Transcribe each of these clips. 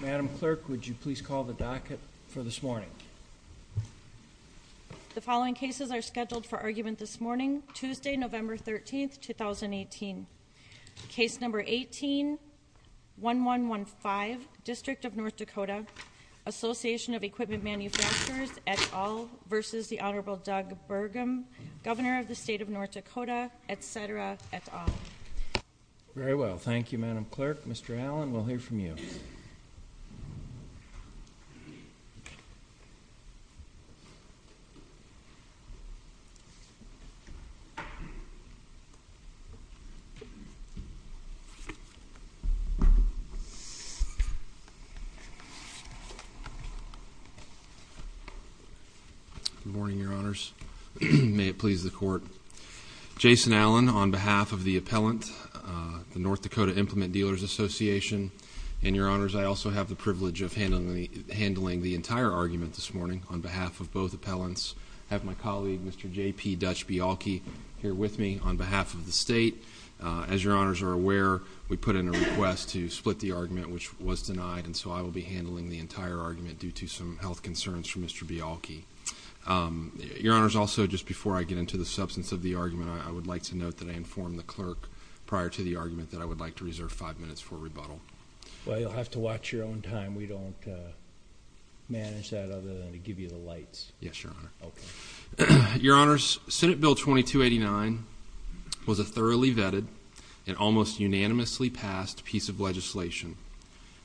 Mdm. Clerk, would you please call the docket for this morning? The following cases are scheduled for argument this morning, Tuesday, Nov. 13, 2018. Case No. 18-1115, District of North Dakota, Association of Equipment Manufacturers, et al. v. The Hon. Doug Burgum, Governor of the State of North Dakota, etc., et al. Very well. Thank you, Mdm. Clerk. Mr. Allen, we'll hear from you. Good morning, Your Honors. May it please the Court. Jason Allen, on behalf of the appellant, the North Dakota Implement Dealers Association. And, Your Honors, I also have the privilege of handling the entire argument this morning on behalf of both appellants. I have my colleague, Mr. J.P. Dutch-Bialke, here with me on behalf of the State. As Your Honors are aware, we put in a request to split the argument, which was denied, and so I will be handling the entire argument due to some health concerns from Mr. Bialke. Your Honors, also, just before I get into the substance of the argument, I would like to note that I informed the clerk prior to the argument that I would like to reserve five minutes for rebuttal. Well, you'll have to watch your own time. We don't manage that other than to give you the lights. Yes, Your Honor. Okay. Your Honors, Senate Bill 2289 was a thoroughly vetted and almost unanimously passed piece of legislation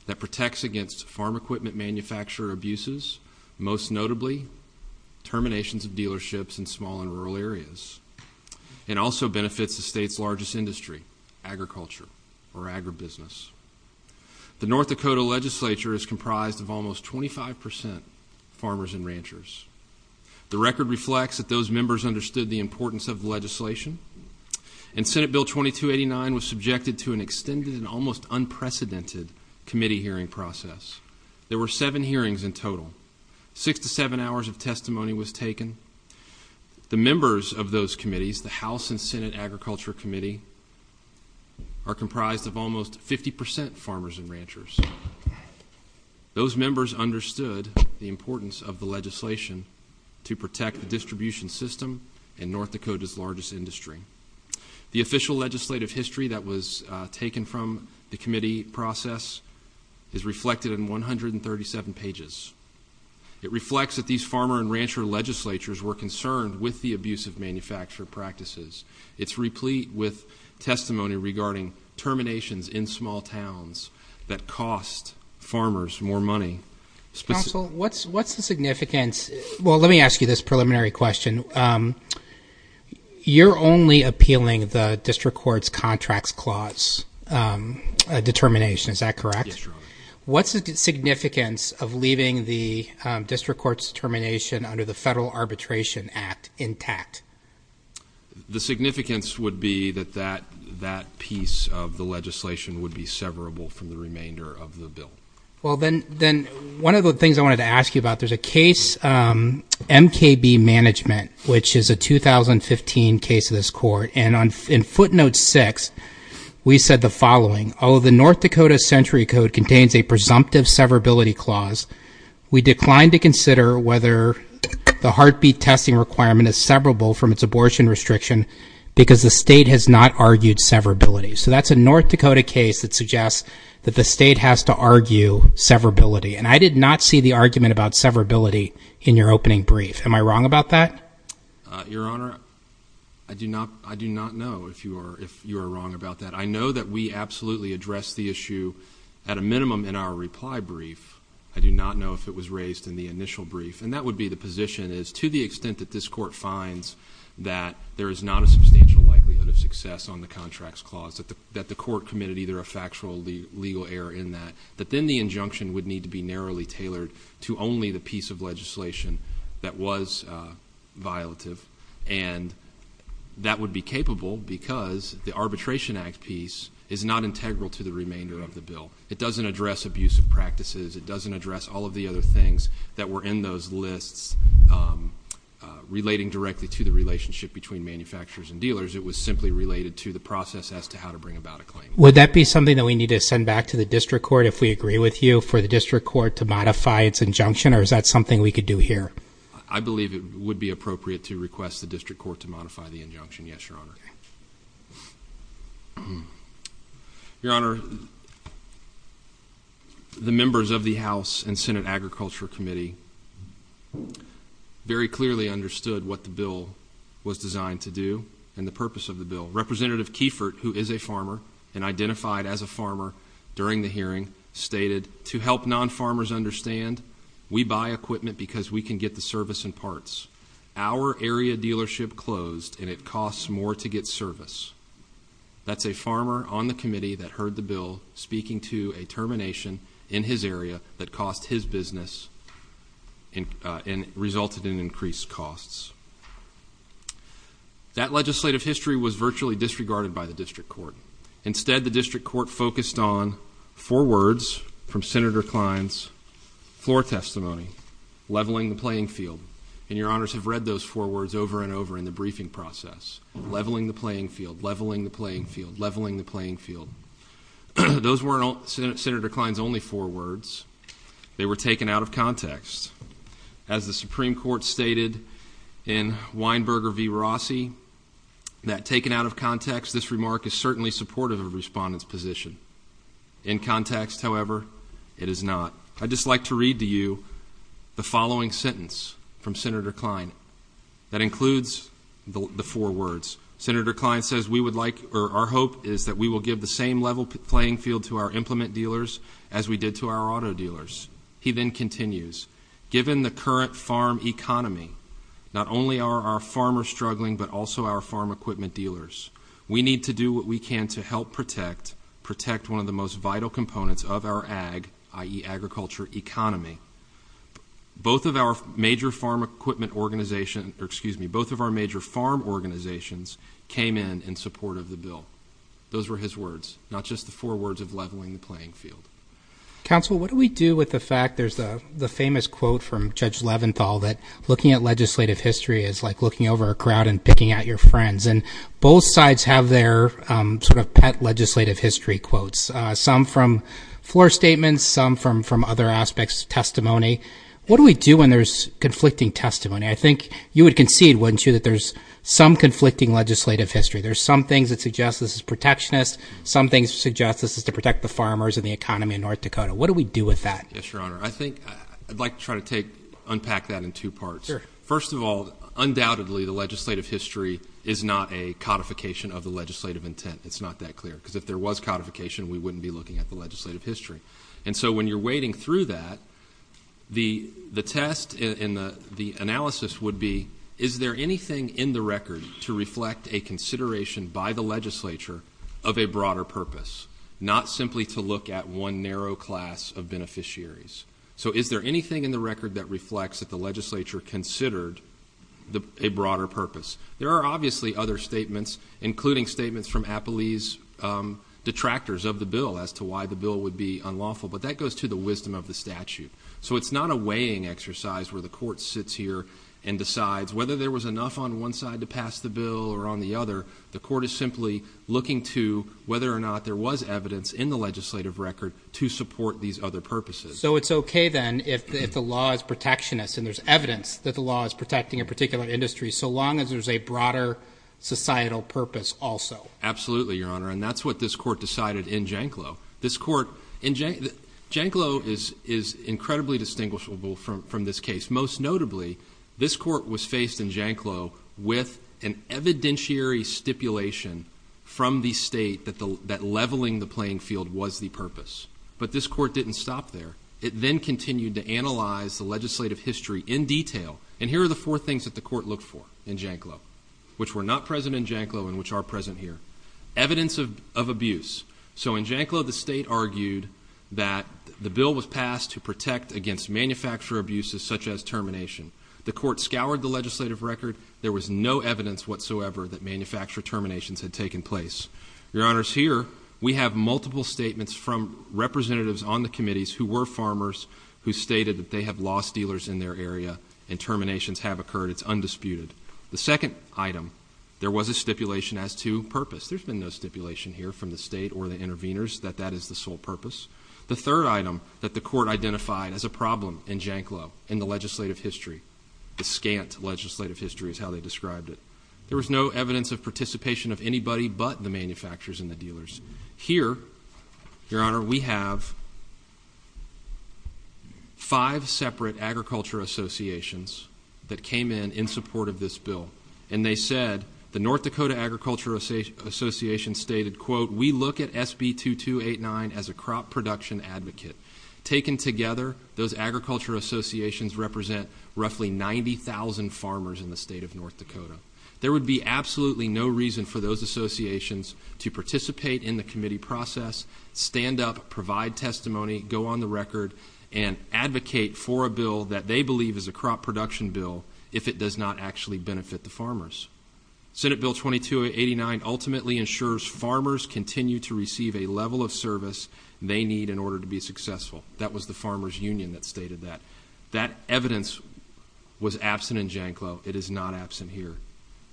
that protects against farm equipment manufacturer abuses, most notably terminations of dealerships in small and rural areas, and also benefits the state's largest industry, agriculture, or agribusiness. The North Dakota legislature is comprised of almost 25% farmers and ranchers. The record reflects that those members understood the importance of the legislation, and Senate Bill 2289 was subjected to an extended and almost unprecedented committee hearing process. There were seven hearings in total. Six to seven hours of testimony was taken. The members of those committees, the House and Senate Agriculture Committee, are comprised of almost 50% farmers and ranchers. Those members understood the importance of the legislation to protect the distribution system in North Dakota's largest industry. The official legislative history that was taken from the committee process is reflected in 137 pages. It reflects that these farmer and rancher legislatures were concerned with the abuse of manufacturer practices. It's replete with testimony regarding terminations in small towns that cost farmers more money. Counsel, what's the significance? Well, let me ask you this preliminary question. You're only appealing the district court's contracts clause determination. Is that correct? Yes, Your Honor. What's the significance of leaving the district court's determination under the Federal Arbitration Act intact? The significance would be that that piece of the legislation would be severable from the remainder of the bill. Well, then, one of the things I wanted to ask you about, there's a case, MKB Management, which is a 2015 case of this court. And in footnote six, we said the following. Although the North Dakota Century Code contains a presumptive severability clause, we declined to consider whether the heartbeat testing requirement is severable from its abortion restriction because the state has not argued severability. So that's a North Dakota case that suggests that the state has to argue severability. And I did not see the argument about severability in your opening brief. Am I wrong about that? Your Honor, I do not know if you are wrong about that. I know that we absolutely addressed the issue at a minimum in our reply brief. I do not know if it was raised in the initial brief. And that would be the position is to the extent that this court finds that there is not a substantial likelihood of success on the contracts clause, that the court committed either a factual or legal error in that, that then the injunction would need to be narrowly tailored to only the piece of legislation that was violative. And that would be capable because the Arbitration Act piece is not integral to the remainder of the bill. It doesn't address abusive practices. It doesn't address all of the other things that were in those lists relating directly to the relationship between manufacturers and dealers. It was simply related to the process as to how to bring about a claim. Would that be something that we need to send back to the district court if we agree with you for the district court to modify its injunction? Or is that something we could do here? I believe it would be appropriate to request the district court to modify the injunction. Yes, Your Honor. Okay. Your Honor, the members of the House and Senate Agriculture Committee very clearly understood what the bill was designed to do and the purpose of the bill. Representative Kieffert, who is a farmer and identified as a farmer during the hearing, stated, to help non-farmers understand, we buy equipment because we can get the service in parts. Our area dealership closed and it costs more to get service. That's a farmer on the committee that heard the bill speaking to a termination in his area that cost his business and resulted in increased costs. That legislative history was virtually disregarded by the district court. Instead, the district court focused on four words from Senator Klein's floor testimony, leveling the playing field. And Your Honors have read those four words over and over in the briefing process. Leveling the playing field. Leveling the playing field. Leveling the playing field. Those weren't Senator Klein's only four words. They were taken out of context. As the Supreme Court stated in Weinberger v. Rossi, that taken out of context, this remark is certainly supportive of a respondent's position. In context, however, it is not. I'd just like to read to you the following sentence from Senator Klein that includes the four words. Senator Klein says, we would like, or our hope is that we will give the same level playing field to our implement dealers as we did to our auto dealers. He then continues, given the current farm economy, not only are our farmers struggling, but also our farm equipment dealers. We need to do what we can to help protect, protect one of the most vital components of our ag, i.e., agriculture economy. Both of our major farm equipment organization, or excuse me, both of our major farm organizations came in in support of the bill. Those were his words, not just the four words of leveling the playing field. Counsel, what do we do with the fact there's the famous quote from Judge Leventhal that looking at legislative history is like looking over a crowd and picking out your friends. And both sides have their sort of pet legislative history quotes, some from floor statements, some from other aspects, testimony. What do we do when there's conflicting testimony? I think you would concede, wouldn't you, that there's some conflicting legislative history. There's some things that suggest this is protectionist. Some things suggest this is to protect the farmers and the economy in North Dakota. What do we do with that? Yes, Your Honor. I think I'd like to try to take, unpack that in two parts. Sure. First of all, undoubtedly, the legislative history is not a codification of the legislative intent. It's not that clear, because if there was codification, we wouldn't be looking at the legislative history. And so when you're wading through that, the test and the analysis would be, is there anything in the record to reflect a consideration by the legislature of a broader purpose, not simply to look at one narrow class of beneficiaries? So is there anything in the record that reflects that the legislature considered a broader purpose? There are obviously other statements, including statements from Appalee's detractors of the bill as to why the bill would be unlawful, but that goes to the wisdom of the statute. So it's not a weighing exercise where the court sits here and decides whether there was enough on one side to pass the bill or on the other. The court is simply looking to whether or not there was evidence in the legislative record to support these other purposes. So it's okay, then, if the law is protectionist and there's evidence that the law is protecting a particular industry, so long as there's a broader societal purpose also? Absolutely, Your Honor, and that's what this court decided in Janclow. Janclow is incredibly distinguishable from this case. Most notably, this court was faced in Janclow with an evidentiary stipulation from the state that leveling the playing field was the purpose. But this court didn't stop there. It then continued to analyze the legislative history in detail, and here are the four things that the court looked for in Janclow, which were not present in Janclow and which are present here. Evidence of abuse. So in Janclow, the state argued that the bill was passed to protect against manufacturer abuses such as termination. The court scoured the legislative record. There was no evidence whatsoever that manufacturer terminations had taken place. Your Honors, here we have multiple statements from representatives on the committees who were farmers who stated that they have lost dealers in their area and terminations have occurred. It's undisputed. The second item, there was a stipulation as to purpose. There's been no stipulation here from the state or the interveners that that is the sole purpose. The third item that the court identified as a problem in Janclow in the legislative history, the scant legislative history is how they described it, there was no evidence of participation of anybody but the manufacturers and the dealers. Here, Your Honor, we have five separate agriculture associations that came in in support of this bill, and they said the North Dakota Agriculture Association stated, quote, we look at SB 2289 as a crop production advocate. Taken together, those agriculture associations represent roughly 90,000 farmers in the state of North Dakota. There would be absolutely no reason for those associations to participate in the committee process, stand up, provide testimony, go on the record, and advocate for a bill that they believe is a crop production bill if it does not actually benefit the farmers. Senate Bill 2289 ultimately ensures farmers continue to receive a level of service they need in order to be successful. That was the Farmers Union that stated that. That evidence was absent in Janclow. It is not absent here.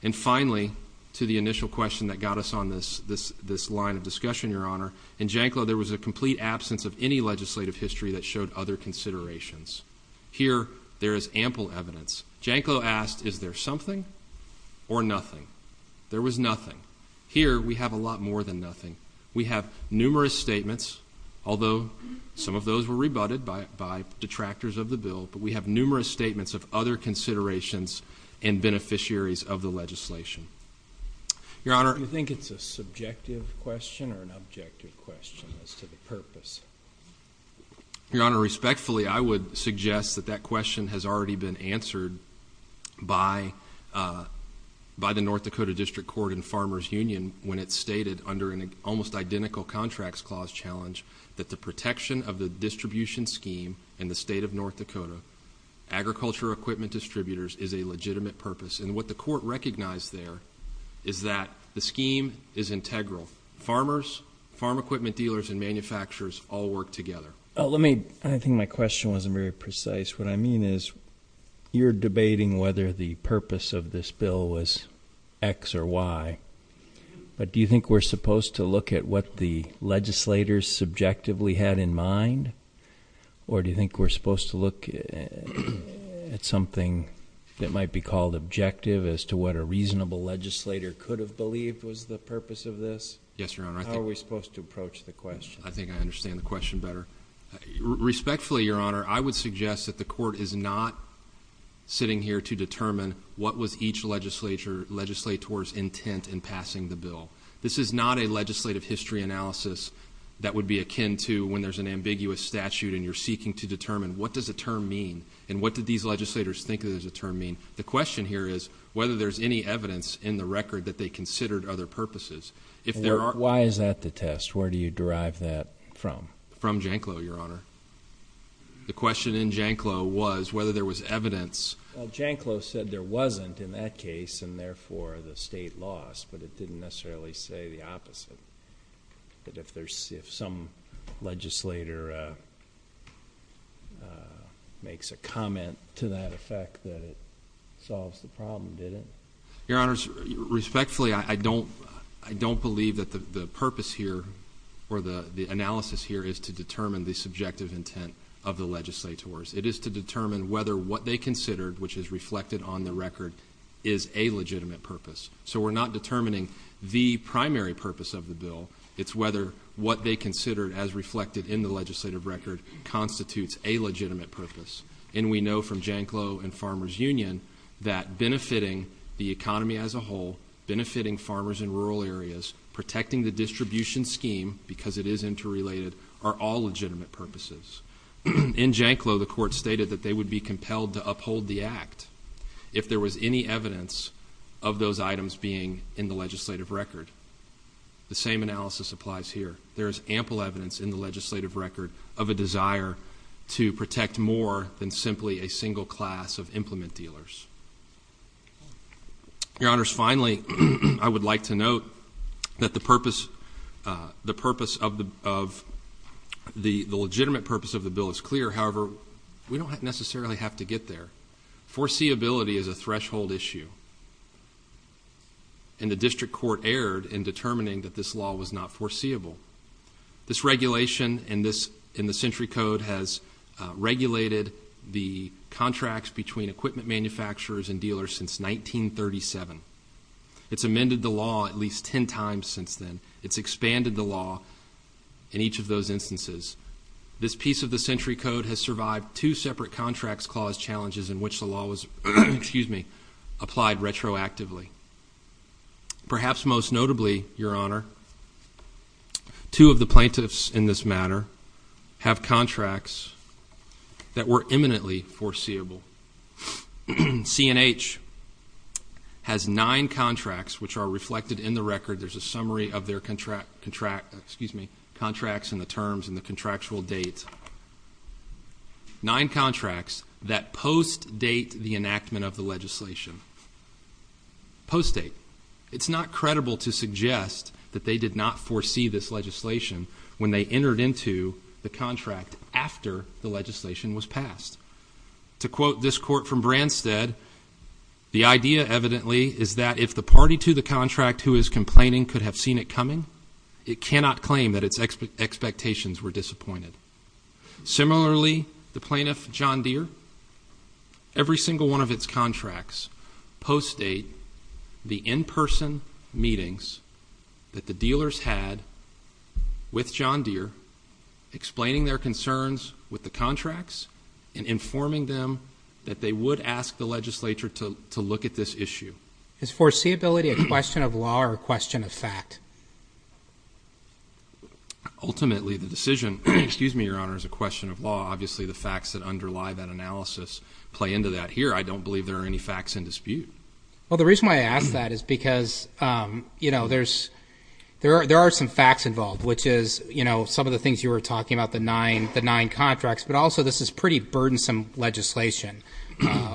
And finally, to the initial question that got us on this line of discussion, Your Honor, in Janclow, there was a complete absence of any legislative history that showed other considerations. Here, there is ample evidence. Janclow asked, is there something or nothing? There was nothing. Here, we have a lot more than nothing. We have numerous statements, although some of those were rebutted by detractors of the bill, but we have numerous statements of other considerations and beneficiaries of the legislation. Your Honor. Do you think it's a subjective question or an objective question as to the purpose? Your Honor, respectfully, I would suggest that that question has already been answered by the North Dakota District Court and Farmers Union when it stated under an almost identical contracts clause challenge that the protection of the distribution scheme in the state of North Dakota, agriculture equipment distributors, is a legitimate purpose. And what the court recognized there is that the scheme is integral. Farmers, farm equipment dealers, and manufacturers all work together. Let me, I think my question wasn't very precise. What I mean is you're debating whether the purpose of this bill was X or Y, but do you think we're supposed to look at what the legislators subjectively had in mind, or do you think we're supposed to look at something that might be called objective as to what a reasonable legislator could have believed was the purpose of this? Yes, Your Honor. How are we supposed to approach the question? I think I understand the question better. Respectfully, Your Honor, I would suggest that the court is not sitting here to determine what was each legislator's intent in passing the bill. This is not a legislative history analysis that would be akin to when there's an ambiguous statute and you're seeking to determine what does a term mean and what do these legislators think a term means. The question here is whether there's any evidence in the record that they considered other purposes. Why is that the test? Where do you derive that from? From Janclo, Your Honor. The question in Janclo was whether there was evidence... Janclo said there wasn't in that case, and therefore the state lost, but it didn't necessarily say the opposite. If some legislator makes a comment to that effect that it solves the problem, did it? Your Honors, respectfully, I don't believe that the purpose here or the analysis here is to determine the subjective intent of the legislators. It is to determine whether what they considered, which is reflected on the record, is a legitimate purpose. So we're not determining the primary purpose of the bill. It's whether what they considered as reflected in the legislative record constitutes a legitimate purpose. And we know from Janclo and Farmers Union that benefiting the economy as a whole, benefiting farmers in rural areas, protecting the distribution scheme, because it is interrelated, are all legitimate purposes. In Janclo, the court stated that they would be compelled to uphold the act. If there was any evidence of those items being in the legislative record, the same analysis applies here. There is ample evidence in the legislative record of a desire to protect more than simply a single class of implement dealers. Your Honors, finally, I would like to note that the purpose... the purpose of the... the legitimate purpose of the bill is clear. However, we don't necessarily have to get there. Foreseeability is a threshold issue. And the district court erred in determining that this law was not foreseeable. This regulation in the Century Code has regulated the contracts between equipment manufacturers and dealers since 1937. It's amended the law at least ten times since then. It's expanded the law in each of those instances. This piece of the Century Code has survived two separate contracts clause challenges in which the law was applied retroactively. Perhaps most notably, Your Honor, two of the plaintiffs in this matter have contracts that were imminently foreseeable. CNH has nine contracts which are reflected in the record. There's a summary of their contract... excuse me... contracts and the terms and the contractual date. Nine contracts that post-date the enactment of the legislation. Post-date. It's not credible to suggest that they did not foresee this legislation when they entered into the contract after the legislation was passed. To quote this court from Branstad, the idea evidently is that if the party to the contract who is complaining could have seen it coming, it cannot claim that its expectations were disappointed. Similarly, the plaintiff, John Deere, every single one of its contracts post-date the in-person meetings that the dealers had with John Deere, explaining their concerns with the contracts and informing them that they would ask the legislature to look at this issue. Is foreseeability a question of law or a question of fact? Ultimately, the decision, excuse me, Your Honor, is a question of law. Obviously, the facts that underlie that analysis play into that. Here, I don't believe there are any facts in dispute. Well, the reason why I ask that is because, you know, there are some facts involved, which is, you know, some of the things you were talking about, the nine contracts, but also this is pretty burdensome legislation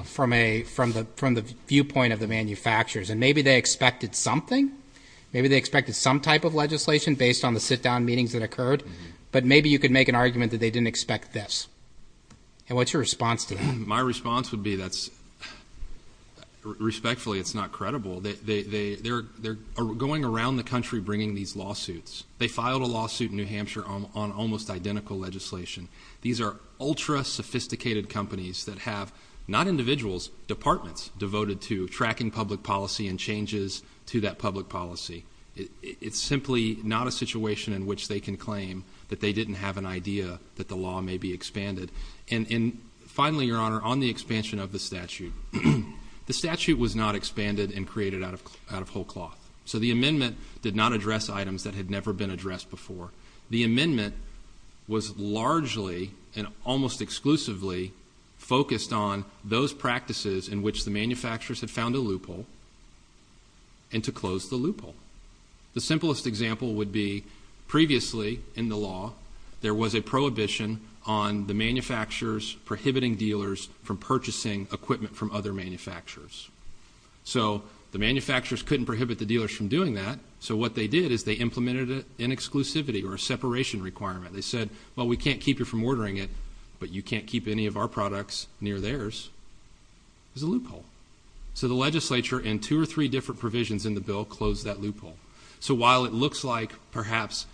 from the viewpoint of the manufacturers. And maybe they expected something. Maybe they expected some type of legislation based on the sit-down meetings that occurred. But maybe you could make an argument that they didn't expect this. And what's your response to that? My response would be that's respectfully it's not credible. They're going around the country bringing these lawsuits. They filed a lawsuit in New Hampshire on almost identical legislation. These are ultra-sophisticated companies that have, not individuals, departments devoted to tracking public policy and changes to that public policy. It's simply not a situation in which they can claim that they didn't have an idea that the law may be expanded. And finally, Your Honor, on the expansion of the statute, the statute was not expanded and created out of whole cloth. So the amendment did not address items that had never been addressed before. The amendment was largely and almost exclusively focused on those practices in which the manufacturers had found a loophole and to close the loophole. The simplest example would be previously in the law there was a prohibition on the manufacturers prohibiting dealers from purchasing equipment from other manufacturers. So the manufacturers couldn't prohibit the dealers from doing that. So what they did is they implemented an exclusivity or a separation requirement. They said, well, we can't keep you from ordering it, but you can't keep any of our products near theirs. It was a loophole. So the legislature and two or three different provisions in the bill closed that loophole. So while it looks like perhaps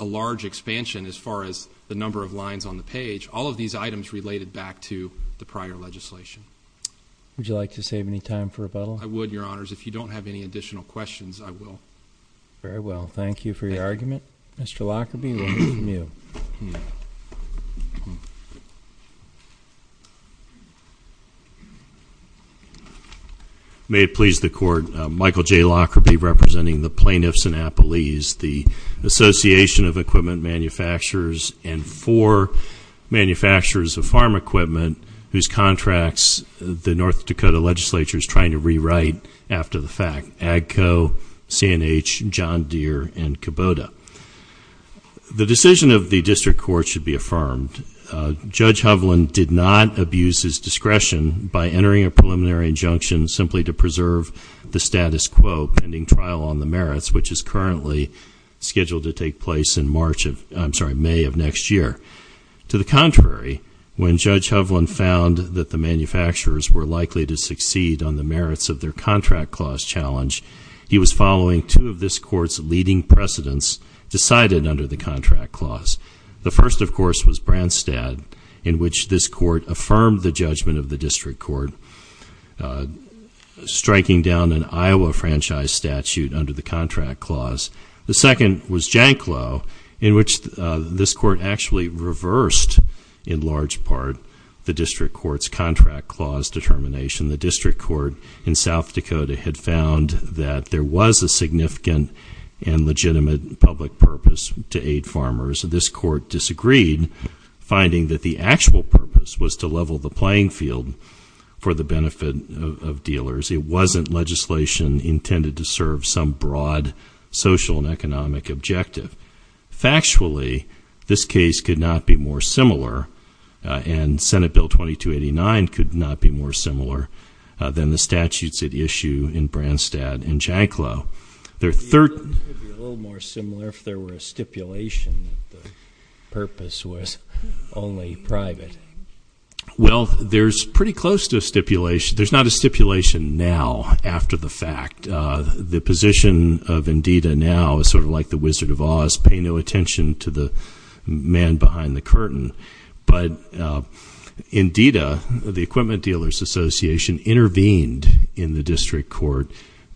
a large expansion as far as the number of lines on the page, all of these items related back to the prior legislation. Would you like to save any time for rebuttal? I would, Your Honors. If you don't have any additional questions, I will. Very well. Thank you for your argument. Mr. Lockerbie, we'll move to you. May it please the Court, Michael J. Lockerbie representing the plaintiffs in Appalese, the Association of Equipment Manufacturers and four manufacturers of farm equipment whose contracts the North Dakota legislature is trying to rewrite after the fact, AGCO, C&H, John Deere, and Kubota. The decision of the district court should be affirmed. Judge Hovland did not abuse his discretion by entering a preliminary injunction simply to preserve the status quo pending trial on the merits, which is currently scheduled to take place in May of next year. To the contrary, when Judge Hovland found that the manufacturers were likely to succeed on the merits of their contract clause challenge, he was following two of this court's leading precedents decided under the contract clause. The first, of course, was Branstad, in which this court affirmed the judgment of the district court, striking down an Iowa franchise statute under the contract clause. The second was Janklow, in which this court actually reversed, in large part, the district court's contract clause determination. The district court in South Dakota had found that there was a significant and legitimate public purpose to aid farmers. This court disagreed, finding that the actual purpose was to level the playing field for the benefit of dealers. It wasn't legislation intended to serve some broad social and economic objective. Factually, this case could not be more similar, and Senate Bill 2289 could not be more similar than the statutes at issue in Branstad and Janklow. They're third- It would be a little more similar if there were a stipulation that the purpose was only private. Well, there's pretty close to a stipulation. There's not a stipulation now after the fact. The position of NDDA now is sort of like the Wizard of Oz, pay no attention to the man behind the curtain. But NDDA, the Equipment Dealers Association, intervened in the district court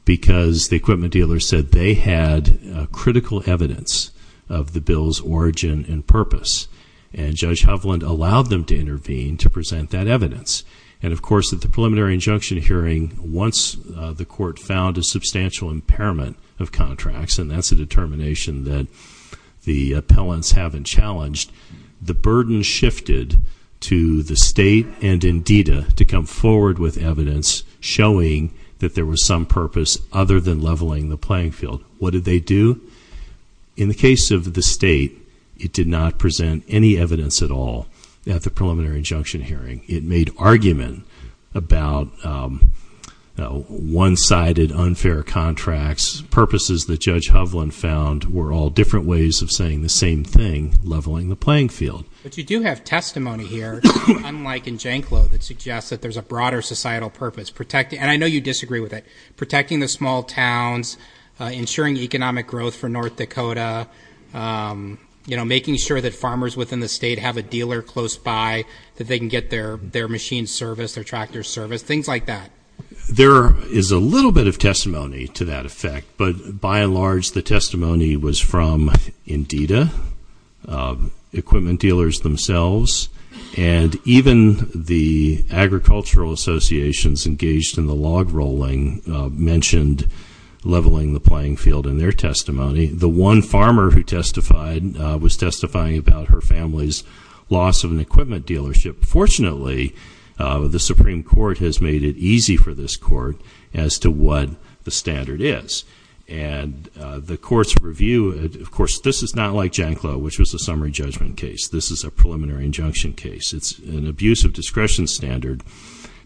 because the equipment dealers said they had critical evidence of the bill's origin and purpose. And Judge Hovland allowed them to intervene to present that evidence. And, of course, at the preliminary injunction hearing, once the court found a substantial impairment of contracts, and that's a determination that the appellants haven't challenged, the burden shifted to the state and NDDA to come forward with evidence showing that there was some purpose other than leveling the playing field. What did they do? In the case of the state, it did not present any evidence at all at the preliminary injunction hearing. It made argument about one-sided unfair contracts. Purposes that Judge Hovland found were all different ways of saying the same thing, leveling the playing field. But you do have testimony here, unlike in Janklow, that suggests that there's a broader societal purpose. And I know you disagree with it. Protecting the small towns, ensuring economic growth for North Dakota, making sure that farmers within the state have a dealer close by that they can get their machines serviced, their tractors serviced, things like that. There is a little bit of testimony to that effect, but by and large, the testimony was from NDDA, equipment dealers themselves, and even the agricultural associations engaged in the log rolling mentioned leveling the playing field in their testimony. The one farmer who testified was testifying about her family's loss of an equipment dealership. Fortunately, the Supreme Court has made it easy for this court as to what the standard is. And the courts review it. Of course, this is not like Janklow, which was a summary judgment case. This is a preliminary injunction case. It's an abuse of discretion standard.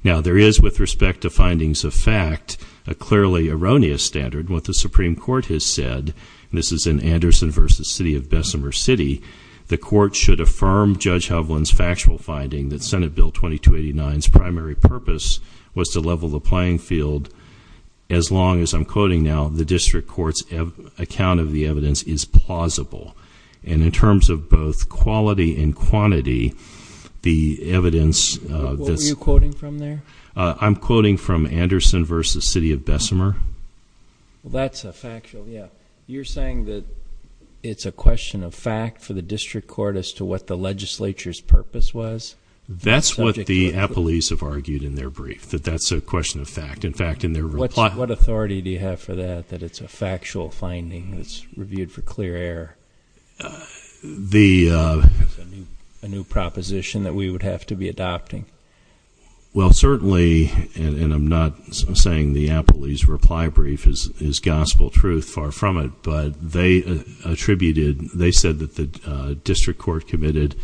Now, there is, with respect to findings of fact, a clearly erroneous standard. What the Supreme Court has said, and this is in Anderson v. City of Bessemer City, the court should affirm Judge Hovland's factual finding that Senate Bill 2289's primary purpose was to level the playing field. As long as, I'm quoting now, the district court's account of the evidence is plausible. And in terms of both quality and quantity, the evidence of this- What were you quoting from there? I'm quoting from Anderson v. City of Bessemer. Well, that's a factual, yeah. You're saying that it's a question of fact for the district court as to what the legislature's purpose was? That's what the appellees have argued in their brief, that that's a question of fact. In fact, in their reply- That's a new proposition that we would have to be adopting. Well, certainly, and I'm not saying the appellee's reply brief is gospel truth. Far from it. But they attributed, they said that the district court committed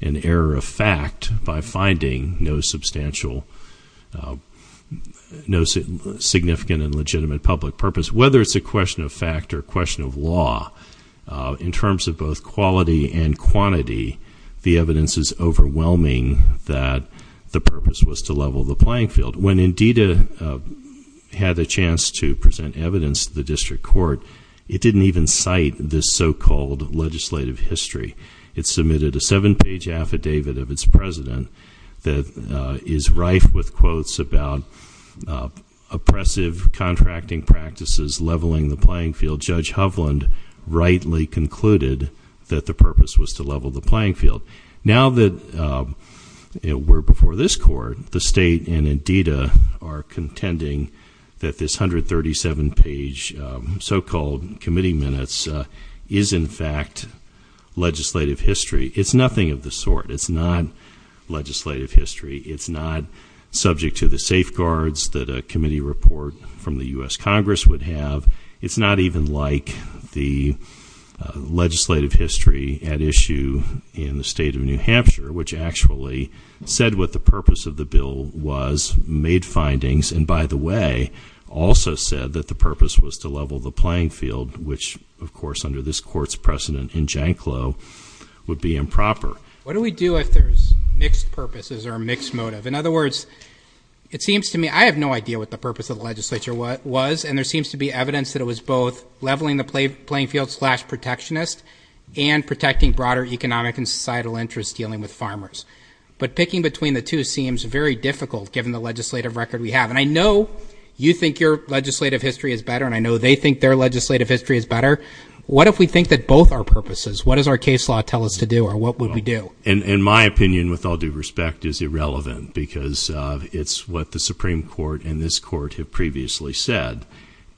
an error of fact by finding no substantial, no significant and legitimate public purpose. Whether it's a question of fact or a question of law, in terms of both quality and quantity, the evidence is overwhelming that the purpose was to level the playing field. When Indita had a chance to present evidence to the district court, it didn't even cite this so-called legislative history. It submitted a seven-page affidavit of its president that is rife with quotes about oppressive contracting practices, leveling the playing field. Judge Hovland rightly concluded that the purpose was to level the playing field. Now that we're before this court, the state and Indita are contending that this 137-page so-called committee minutes is in fact legislative history. It's nothing of the sort. It's not legislative history. It's not subject to the safeguards that a committee report from the U.S. Congress would have. It's not even like the legislative history at issue in the state of New Hampshire, which actually said what the purpose of the bill was, made findings, and by the way, also said that the purpose was to level the playing field, which, of course, under this court's precedent in Janclow, would be improper. What do we do if there's mixed purposes or a mixed motive? In other words, it seems to me I have no idea what the purpose of the legislature was, and there seems to be evidence that it was both leveling the playing field slash protectionist and protecting broader economic and societal interests dealing with farmers. But picking between the two seems very difficult, given the legislative record we have. And I know you think your legislative history is better, and I know they think their legislative history is better. What if we think that both are purposes? What does our case law tell us to do, or what would we do? In my opinion, with all due respect, is irrelevant, because it's what the Supreme Court and this court have previously said.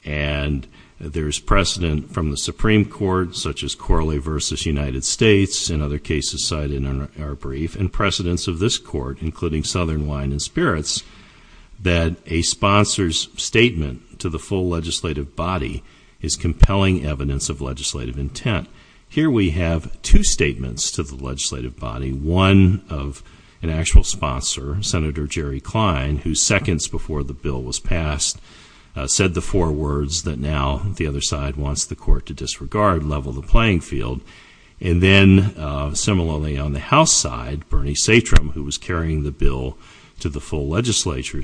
And there's precedent from the Supreme Court, such as Corley v. United States, and other cases cited in our brief, and precedents of this court, including Southern Wine and Spirits, that a sponsor's statement to the full legislative body is compelling evidence of legislative intent. Here we have two statements to the legislative body. One of an actual sponsor, Senator Jerry Klein, who seconds before the bill was passed, said the four words that now the other side wants the court to disregard, level the playing field. And then, similarly, on the House side, Bernie Satrum, who was carrying the bill to the full legislature,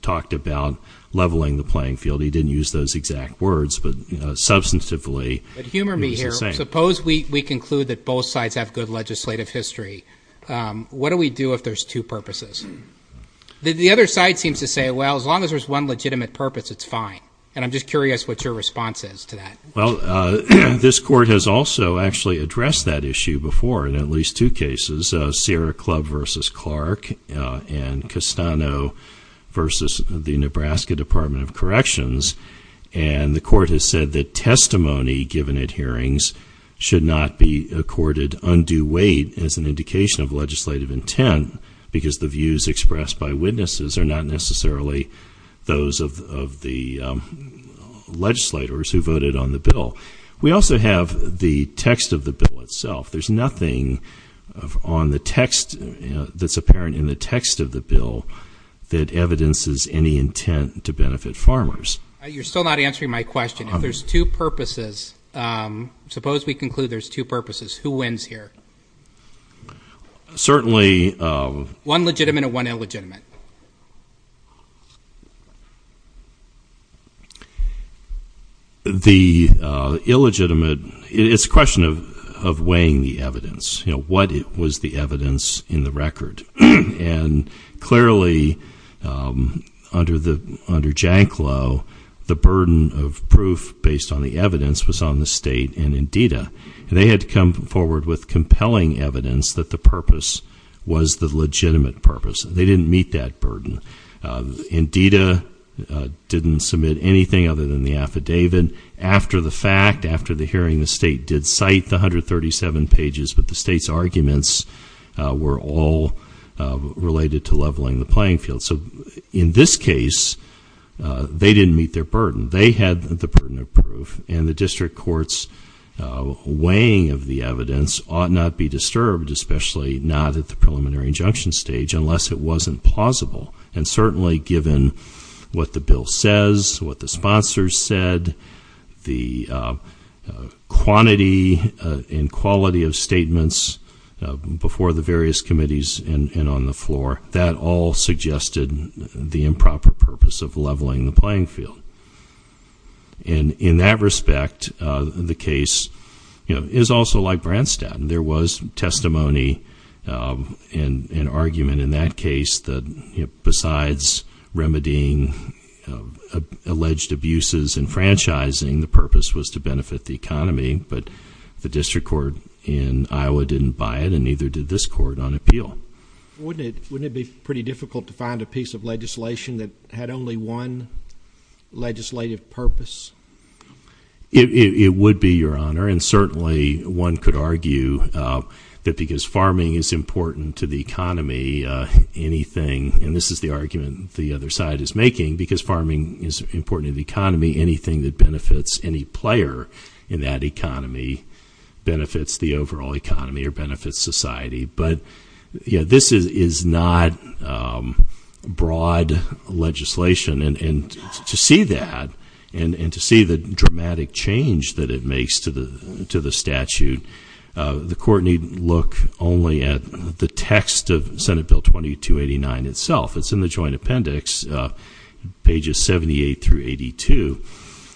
talked about leveling the playing field. He didn't use those exact words, but substantively. But humor me here. Suppose we conclude that both sides have good legislative history. What do we do if there's two purposes? The other side seems to say, well, as long as there's one legitimate purpose, it's fine. And I'm just curious what your response is to that. Well, this court has also actually addressed that issue before in at least two cases, Sierra Club v. Clark and Castano v. the Nebraska Department of Corrections. And the court has said that testimony given at hearings should not be accorded undue weight as an indication of legislative intent because the views expressed by witnesses are not necessarily those of the legislators who voted on the bill. We also have the text of the bill itself. There's nothing on the text that's apparent in the text of the bill that evidences any intent to benefit farmers. You're still not answering my question. If there's two purposes, suppose we conclude there's two purposes, who wins here? Certainly. One legitimate and one illegitimate. The illegitimate, it's a question of weighing the evidence. What was the evidence in the record? And clearly, under Janclow, the burden of proof based on the evidence was on the state and Indita. And they had to come forward with compelling evidence that the purpose was the legitimate purpose. They didn't meet that burden. Indita didn't submit anything other than the affidavit. After the fact, after the hearing, the state did cite the 137 pages, but the state's arguments were all related to leveling the playing field. So in this case, they didn't meet their burden. They had the burden of proof. And the district court's weighing of the evidence ought not be disturbed, especially not at the preliminary injunction stage, unless it wasn't plausible. And certainly, given what the bill says, what the sponsors said, the quantity and quality of statements before the various committees and on the floor, that all suggested the improper purpose of leveling the playing field. And in that respect, the case is also like Branstad. There was testimony and argument in that case that besides remedying alleged abuses and franchising, the purpose was to benefit the economy. But the district court in Iowa didn't buy it, and neither did this court on appeal. Wouldn't it be pretty difficult to find a piece of legislation that had only one legislative purpose? It would be, Your Honor. And certainly, one could argue that because farming is important to the economy, anything, and this is the argument the other side is making, because farming is important to the economy, anything that benefits any player in that economy benefits the overall economy or benefits society. But, you know, this is not broad legislation. And to see that and to see the dramatic change that it makes to the statute, the court needn't look only at the text of Senate Bill 2289 itself. It's in the joint appendix, pages 78 through 82.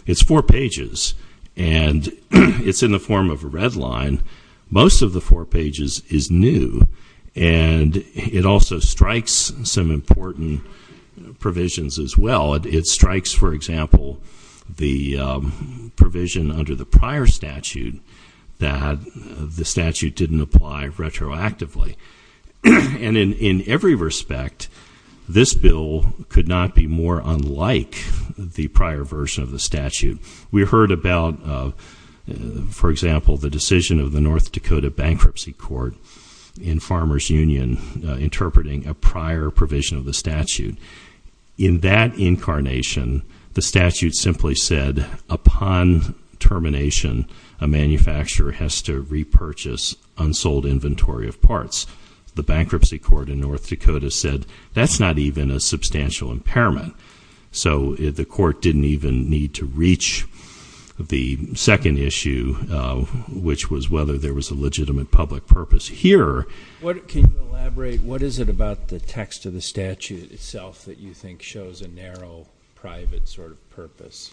It's four pages, and it's in the form of a red line. Most of the four pages is new, and it also strikes some important provisions as well. It strikes, for example, the provision under the prior statute that the statute didn't apply retroactively. And in every respect, this bill could not be more unlike the prior version of the statute. We heard about, for example, the decision of the North Dakota Bankruptcy Court in Farmers Union interpreting a prior provision of the statute. In that incarnation, the statute simply said upon termination, a manufacturer has to repurchase unsold inventory of parts. The Bankruptcy Court in North Dakota said that's not even a substantial impairment. So the court didn't even need to reach the second issue, which was whether there was a legitimate public purpose here. Can you elaborate? What is it about the text of the statute itself that you think shows a narrow, private sort of purpose?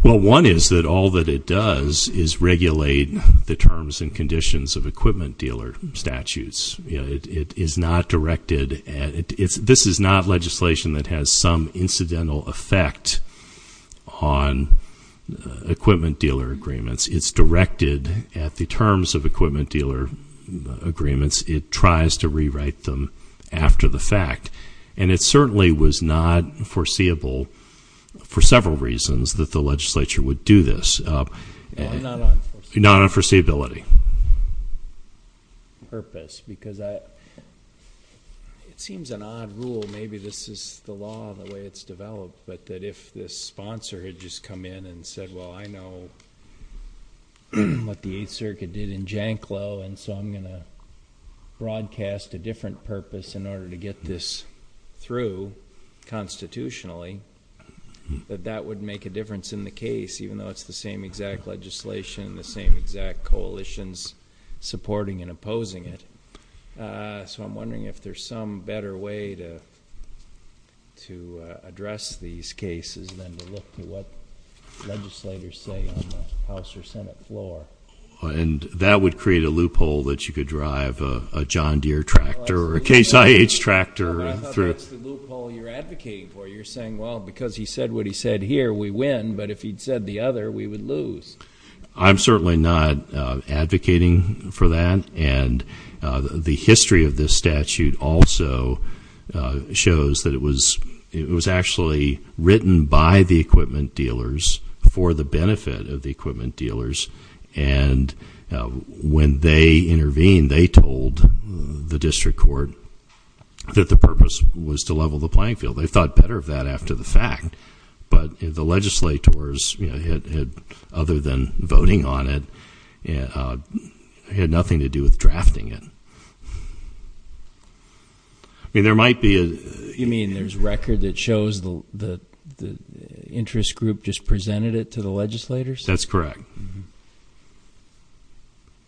Well, one is that all that it does is regulate the terms and conditions of equipment dealer statutes. This is not legislation that has some incidental effect on equipment dealer agreements. It's directed at the terms of equipment dealer agreements. It tries to rewrite them after the fact. And it certainly was not foreseeable for several reasons that the legislature would do this. Not on foreseeability. Not on foreseeability. Purpose, because it seems an odd rule. Maybe this is the law and the way it's developed, but that if this sponsor had just come in and said, well, I know what the Eighth Circuit did in Janclow, and so I'm going to broadcast a different purpose in order to get this through constitutionally, that that would make a difference in the case, even though it's the same exact legislation and the same exact coalitions supporting and opposing it. So I'm wondering if there's some better way to address these cases than to look to what legislators say on the House or Senate floor. And that would create a loophole that you could drive a John Deere tractor or a Case IH tractor through. No, but I thought that's the loophole you're advocating for. You're saying, well, because he said what he said here, we win. But if he'd said the other, we would lose. I'm certainly not advocating for that. And the history of this statute also shows that it was actually written by the equipment dealers for the benefit of the equipment dealers. And when they intervened, they told the district court that the purpose was to level the playing field. They thought better of that after the fact. But the legislators, other than voting on it, had nothing to do with drafting it. I mean, there might be a- You mean there's record that shows the interest group just presented it to the legislators? That's correct.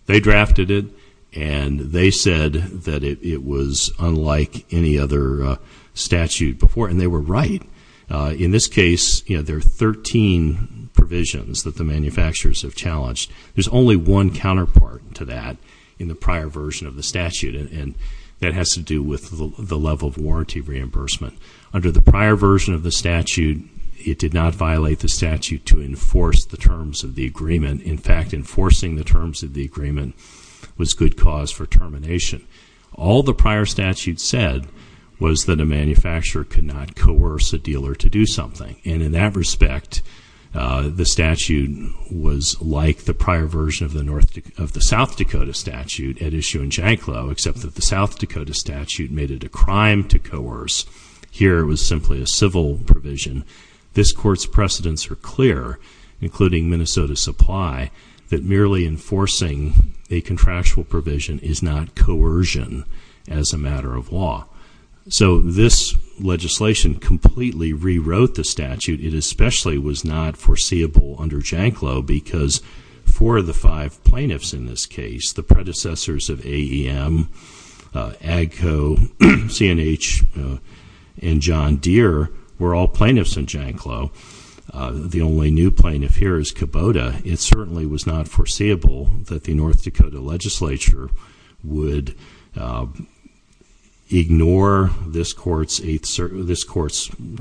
They drafted it, and they said that it was unlike any other statute before. And they were right. In this case, there are 13 provisions that the manufacturers have challenged. There's only one counterpart to that in the prior version of the statute, and that has to do with the level of warranty reimbursement. Under the prior version of the statute, it did not violate the statute to enforce the terms of the agreement. In fact, enforcing the terms of the agreement was good cause for termination. All the prior statute said was that a manufacturer could not coerce a dealer to do something. And in that respect, the statute was like the prior version of the South Dakota statute at issue in Janclow, except that the South Dakota statute made it a crime to coerce. Here, it was simply a civil provision. This court's precedents are clear, including Minnesota Supply, that merely enforcing a contractual provision is not coercion as a matter of law. So this legislation completely rewrote the statute. It especially was not foreseeable under Janclow because four of the five plaintiffs in this case, the predecessors of AEM, AGCO, CNH, and John Deere were all plaintiffs in Janclow. The only new plaintiff here is Kubota. It certainly was not foreseeable that the North Dakota legislature would ignore this court's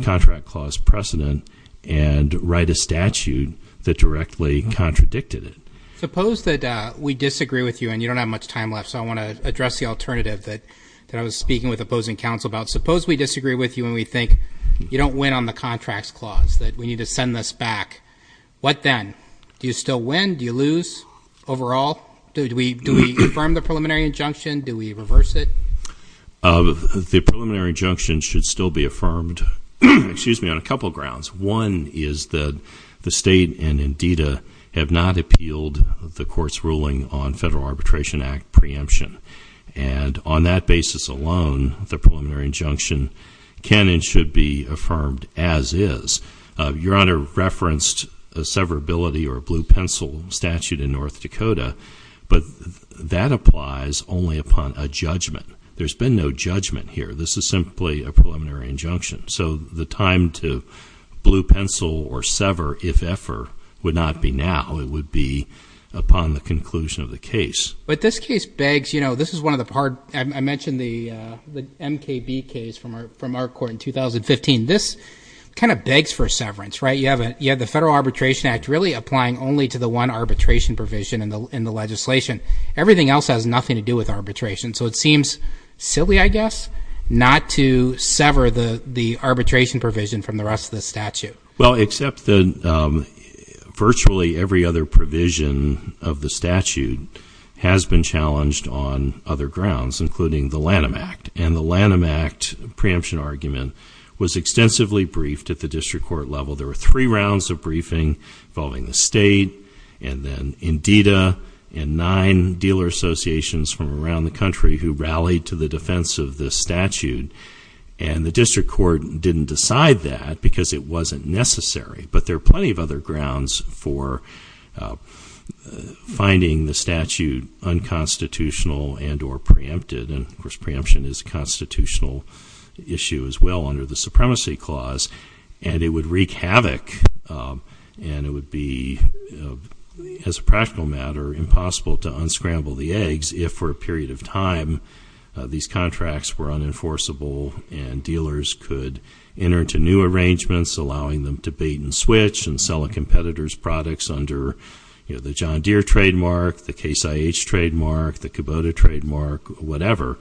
contract clause precedent and write a statute that directly contradicted it. Suppose that we disagree with you and you don't have much time left, so I want to address the alternative that I was speaking with opposing counsel about. Suppose we disagree with you and we think you don't win on the contracts clause, that we need to send this back. What then? Do you still win? Do you lose overall? Do we affirm the preliminary injunction? Do we reverse it? The preliminary injunction should still be affirmed on a couple of grounds. One is that the state and NDTA have not appealed the court's ruling on Federal Arbitration Act preemption, and on that basis alone, the preliminary injunction can and should be affirmed as is. Your Honor referenced a severability or a blue pencil statute in North Dakota, but that applies only upon a judgment. There's been no judgment here. This is simply a preliminary injunction. So the time to blue pencil or sever, if ever, would not be now. It would be upon the conclusion of the case. But this case begs, you know, this is one of the hard – I mentioned the MKB case from our court in 2015. This kind of begs for severance, right? You have the Federal Arbitration Act really applying only to the one arbitration provision in the legislation. Everything else has nothing to do with arbitration. So it seems silly, I guess, not to sever the arbitration provision from the rest of the statute. Well, except that virtually every other provision of the statute has been challenged on other grounds, including the Lanham Act. And the Lanham Act preemption argument was extensively briefed at the district court level. There were three rounds of briefing involving the state and then INDATA and nine dealer associations from around the country who rallied to the defense of this statute. And the district court didn't decide that because it wasn't necessary. But there are plenty of other grounds for finding the statute unconstitutional and or preempted. And, of course, preemption is a constitutional issue as well under the Supremacy Clause. And it would wreak havoc and it would be, as a practical matter, impossible to unscramble the eggs if for a period of time these contracts were unenforceable and dealers could enter into new arrangements, allowing them to bait and switch and sell a competitor's products under, you know, the John Deere trademark, the Case IH trademark, the Kubota trademark, whatever,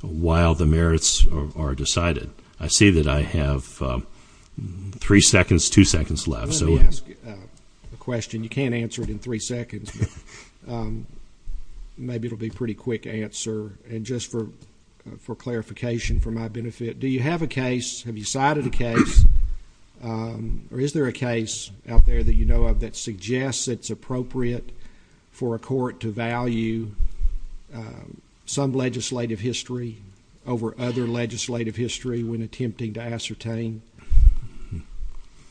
while the merits are decided. I see that I have three seconds, two seconds left. Let me ask a question. You can't answer it in three seconds, but maybe it will be a pretty quick answer. And just for clarification, for my benefit, do you have a case, have you cited a case, or is there a case out there that you know of that suggests it's appropriate for a court to value some legislative history over other legislative history when attempting to ascertain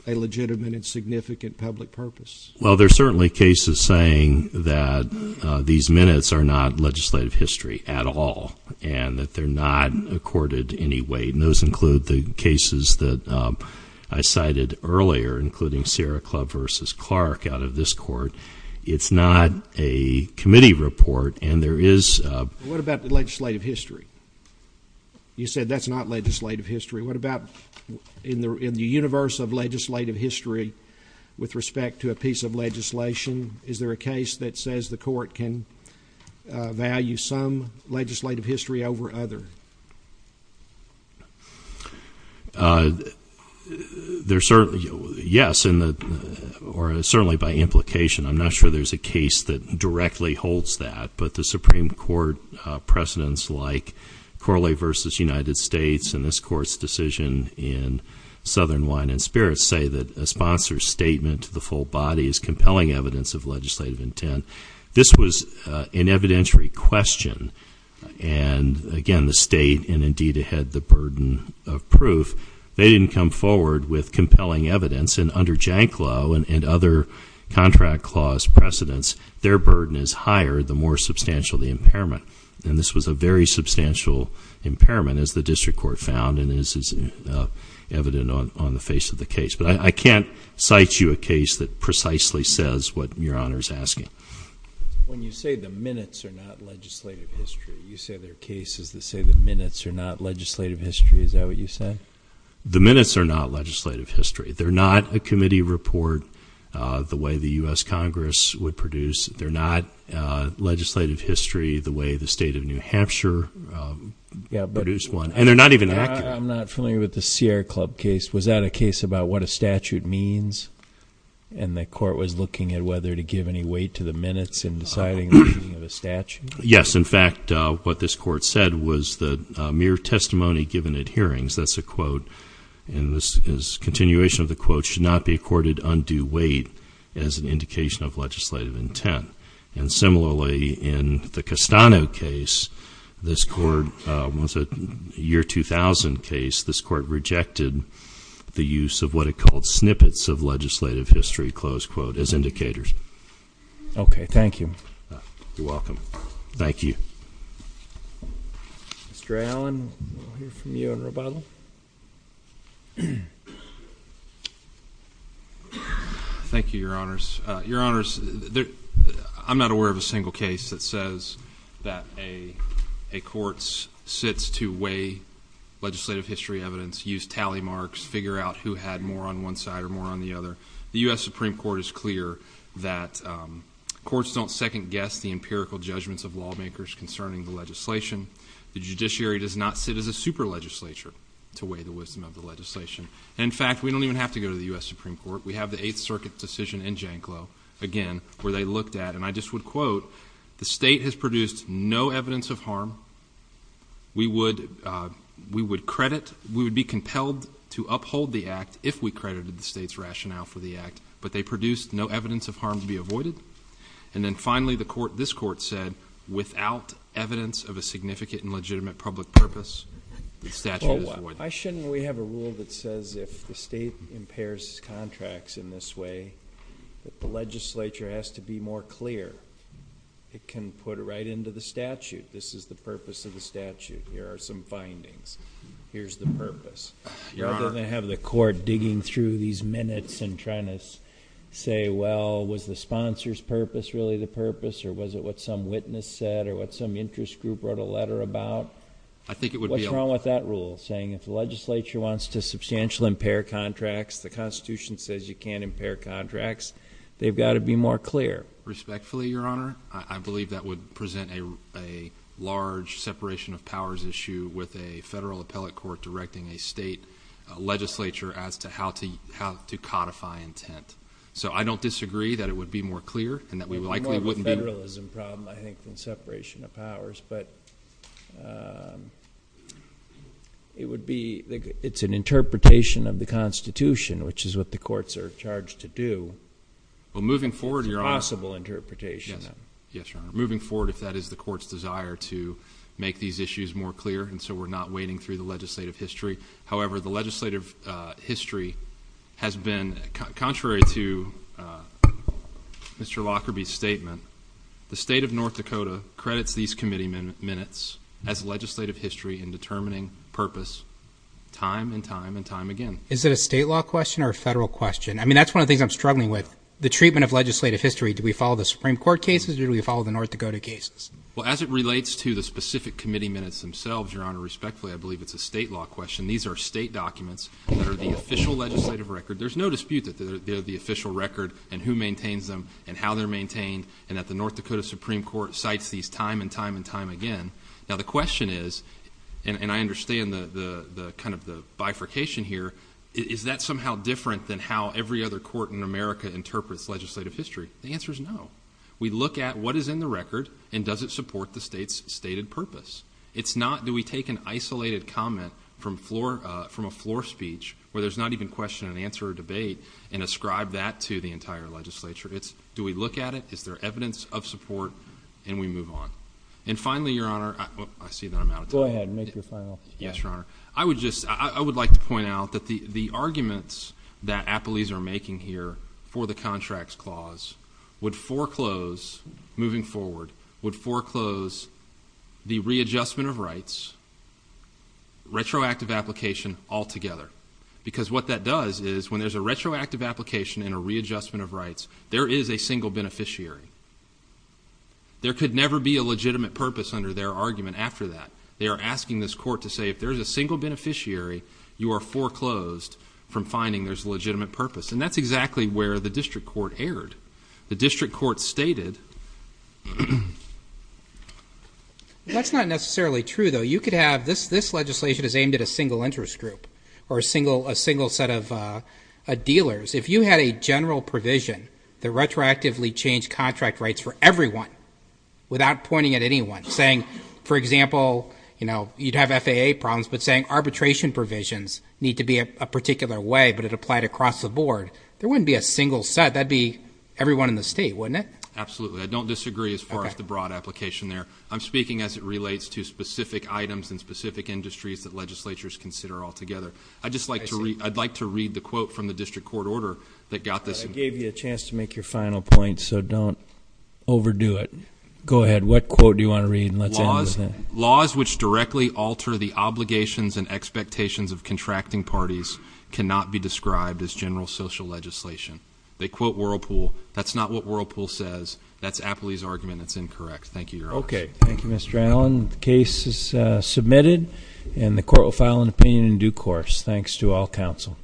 a legitimate and significant public purpose? Well, there are certainly cases saying that these minutes are not legislative history at all and that they're not accorded any weight, and those include the cases that I cited earlier, including Sierra Club versus Clark out of this court. It's not a committee report, and there is a ---- What about the legislative history? You said that's not legislative history. What about in the universe of legislative history with respect to a piece of legislation? Is there a case that says the court can value some legislative history over other? Yes, or certainly by implication. I'm not sure there's a case that directly holds that, but the Supreme Court precedents like Corley versus United States and this court's decision in Southern Wine and Spirits say that a sponsor's statement to the full body is compelling evidence of legislative intent. This was an evidentiary question, and again, the state, and indeed it had the burden of proof, they didn't come forward with compelling evidence, and under Janklow and other contract clause precedents, their burden is higher the more substantial the impairment, and this was a very substantial impairment as the district court found and this is evident on the face of the case. But I can't cite you a case that precisely says what Your Honor is asking. When you say the minutes are not legislative history, you say there are cases that say the minutes are not legislative history. Is that what you say? The minutes are not legislative history. They're not a committee report the way the U.S. Congress would produce. They're not legislative history the way the state of New Hampshire produced one, and they're not even accurate. I'm not familiar with the Sierra Club case. Was that a case about what a statute means, and the court was looking at whether to give any weight to the minutes in deciding the using of a statute? Yes. In fact, what this court said was that mere testimony given at hearings, that's a quote, and this is a continuation of the quote, should not be accorded undue weight as an indication of legislative intent. And similarly, in the Castano case, this court was a year 2000 case. This court rejected the use of what it called snippets of legislative history, close quote, as indicators. Okay. Thank you. You're welcome. Thank you. Mr. Allen, we'll hear from you in rebuttal. Thank you, Your Honors. Your Honors, I'm not aware of a single case that says that a court sits to weigh legislative history evidence, use tally marks, figure out who had more on one side or more on the other. The U.S. Supreme Court is clear that courts don't second guess the empirical judgments of lawmakers concerning the legislation. The judiciary does not sit as a super legislature to weigh the wisdom of the legislation. In fact, we don't even have to go to the U.S. Supreme Court. We have the Eighth Circuit decision in Janclow, again, where they looked at, and I just would quote, the state has produced no evidence of harm. We would credit, we would be compelled to uphold the act if we credited the state's rationale for the act. But they produced no evidence of harm to be avoided. And then finally, this court said, without evidence of a significant and legitimate public purpose, the statute is void. Why shouldn't we have a rule that says if the state impairs contracts in this way, that the legislature has to be more clear? It can put it right into the statute. This is the purpose of the statute. Here are some findings. Here's the purpose. Your Honor. Rather than have the court digging through these minutes and trying to say, well, was the sponsor's purpose really the purpose, or was it what some witness said, or what some interest group wrote a letter about? What's wrong with that rule, saying if the legislature wants to substantially impair contracts, the Constitution says you can't impair contracts? They've got to be more clear. Respectfully, Your Honor, I believe that would present a large separation of powers issue with a federal appellate court directing a state legislature as to how to codify intent. So I don't disagree that it would be more clear and that we likely wouldn't be. It's more of a federalism problem, I think, than separation of powers. But it's an interpretation of the Constitution, which is what the courts are charged to do. Well, moving forward, Your Honor. It's a possible interpretation. Yes, Your Honor. Moving forward, if that is the court's desire to make these issues more clear, and so we're not wading through the legislative history. However, the legislative history has been, contrary to Mr. Lockerbie's statement, the state of North Dakota credits these committee minutes as legislative history in determining purpose time and time and time again. Is it a state law question or a federal question? I mean, that's one of the things I'm struggling with. The treatment of legislative history, do we follow the Supreme Court cases or do we follow the North Dakota cases? Well, as it relates to the specific committee minutes themselves, Your Honor, respectfully, I believe it's a state law question. These are state documents that are the official legislative record. There's no dispute that they're the official record and who maintains them and how they're maintained and that the North Dakota Supreme Court cites these time and time and time again. Now, the question is, and I understand kind of the bifurcation here, is that somehow different than how every other court in America interprets legislative history? The answer is no. We look at what is in the record and does it support the state's stated purpose. It's not do we take an isolated comment from a floor speech where there's not even question and answer debate and ascribe that to the entire legislature. It's do we look at it, is there evidence of support, and we move on. And finally, Your Honor, I see that I'm out of time. Go ahead and make your final statement. Yes, Your Honor. I would like to point out that the arguments that appellees are making here for the contracts clause would foreclose, moving forward, would foreclose the readjustment of rights, retroactive application altogether. Because what that does is when there's a retroactive application and a readjustment of rights, there is a single beneficiary. There could never be a legitimate purpose under their argument after that. They are asking this court to say if there's a single beneficiary, you are foreclosed from finding there's a legitimate purpose. And that's exactly where the district court erred. The district court stated that's not necessarily true, though. You could have this legislation is aimed at a single interest group or a single set of dealers. If you had a general provision that retroactively changed contract rights for everyone without pointing at anyone, saying, for example, you'd have FAA problems, but saying arbitration provisions need to be a particular way, but it applied across the board, there wouldn't be a single set. That would be everyone in the state, wouldn't it? Absolutely. I don't disagree as far as the broad application there. I'm speaking as it relates to specific items and specific industries that legislatures consider altogether. I'd like to read the quote from the district court order that got this. I gave you a chance to make your final point, so don't overdo it. Go ahead. What quote do you want to read? Laws which directly alter the obligations and expectations of contracting parties cannot be described as general social legislation. They quote Whirlpool. That's not what Whirlpool says. That's Apley's argument, and it's incorrect. Thank you, Your Honor. Okay. Thank you, Mr. Allen. The case is submitted, and the court will file an opinion in due course. Thanks to all counsel.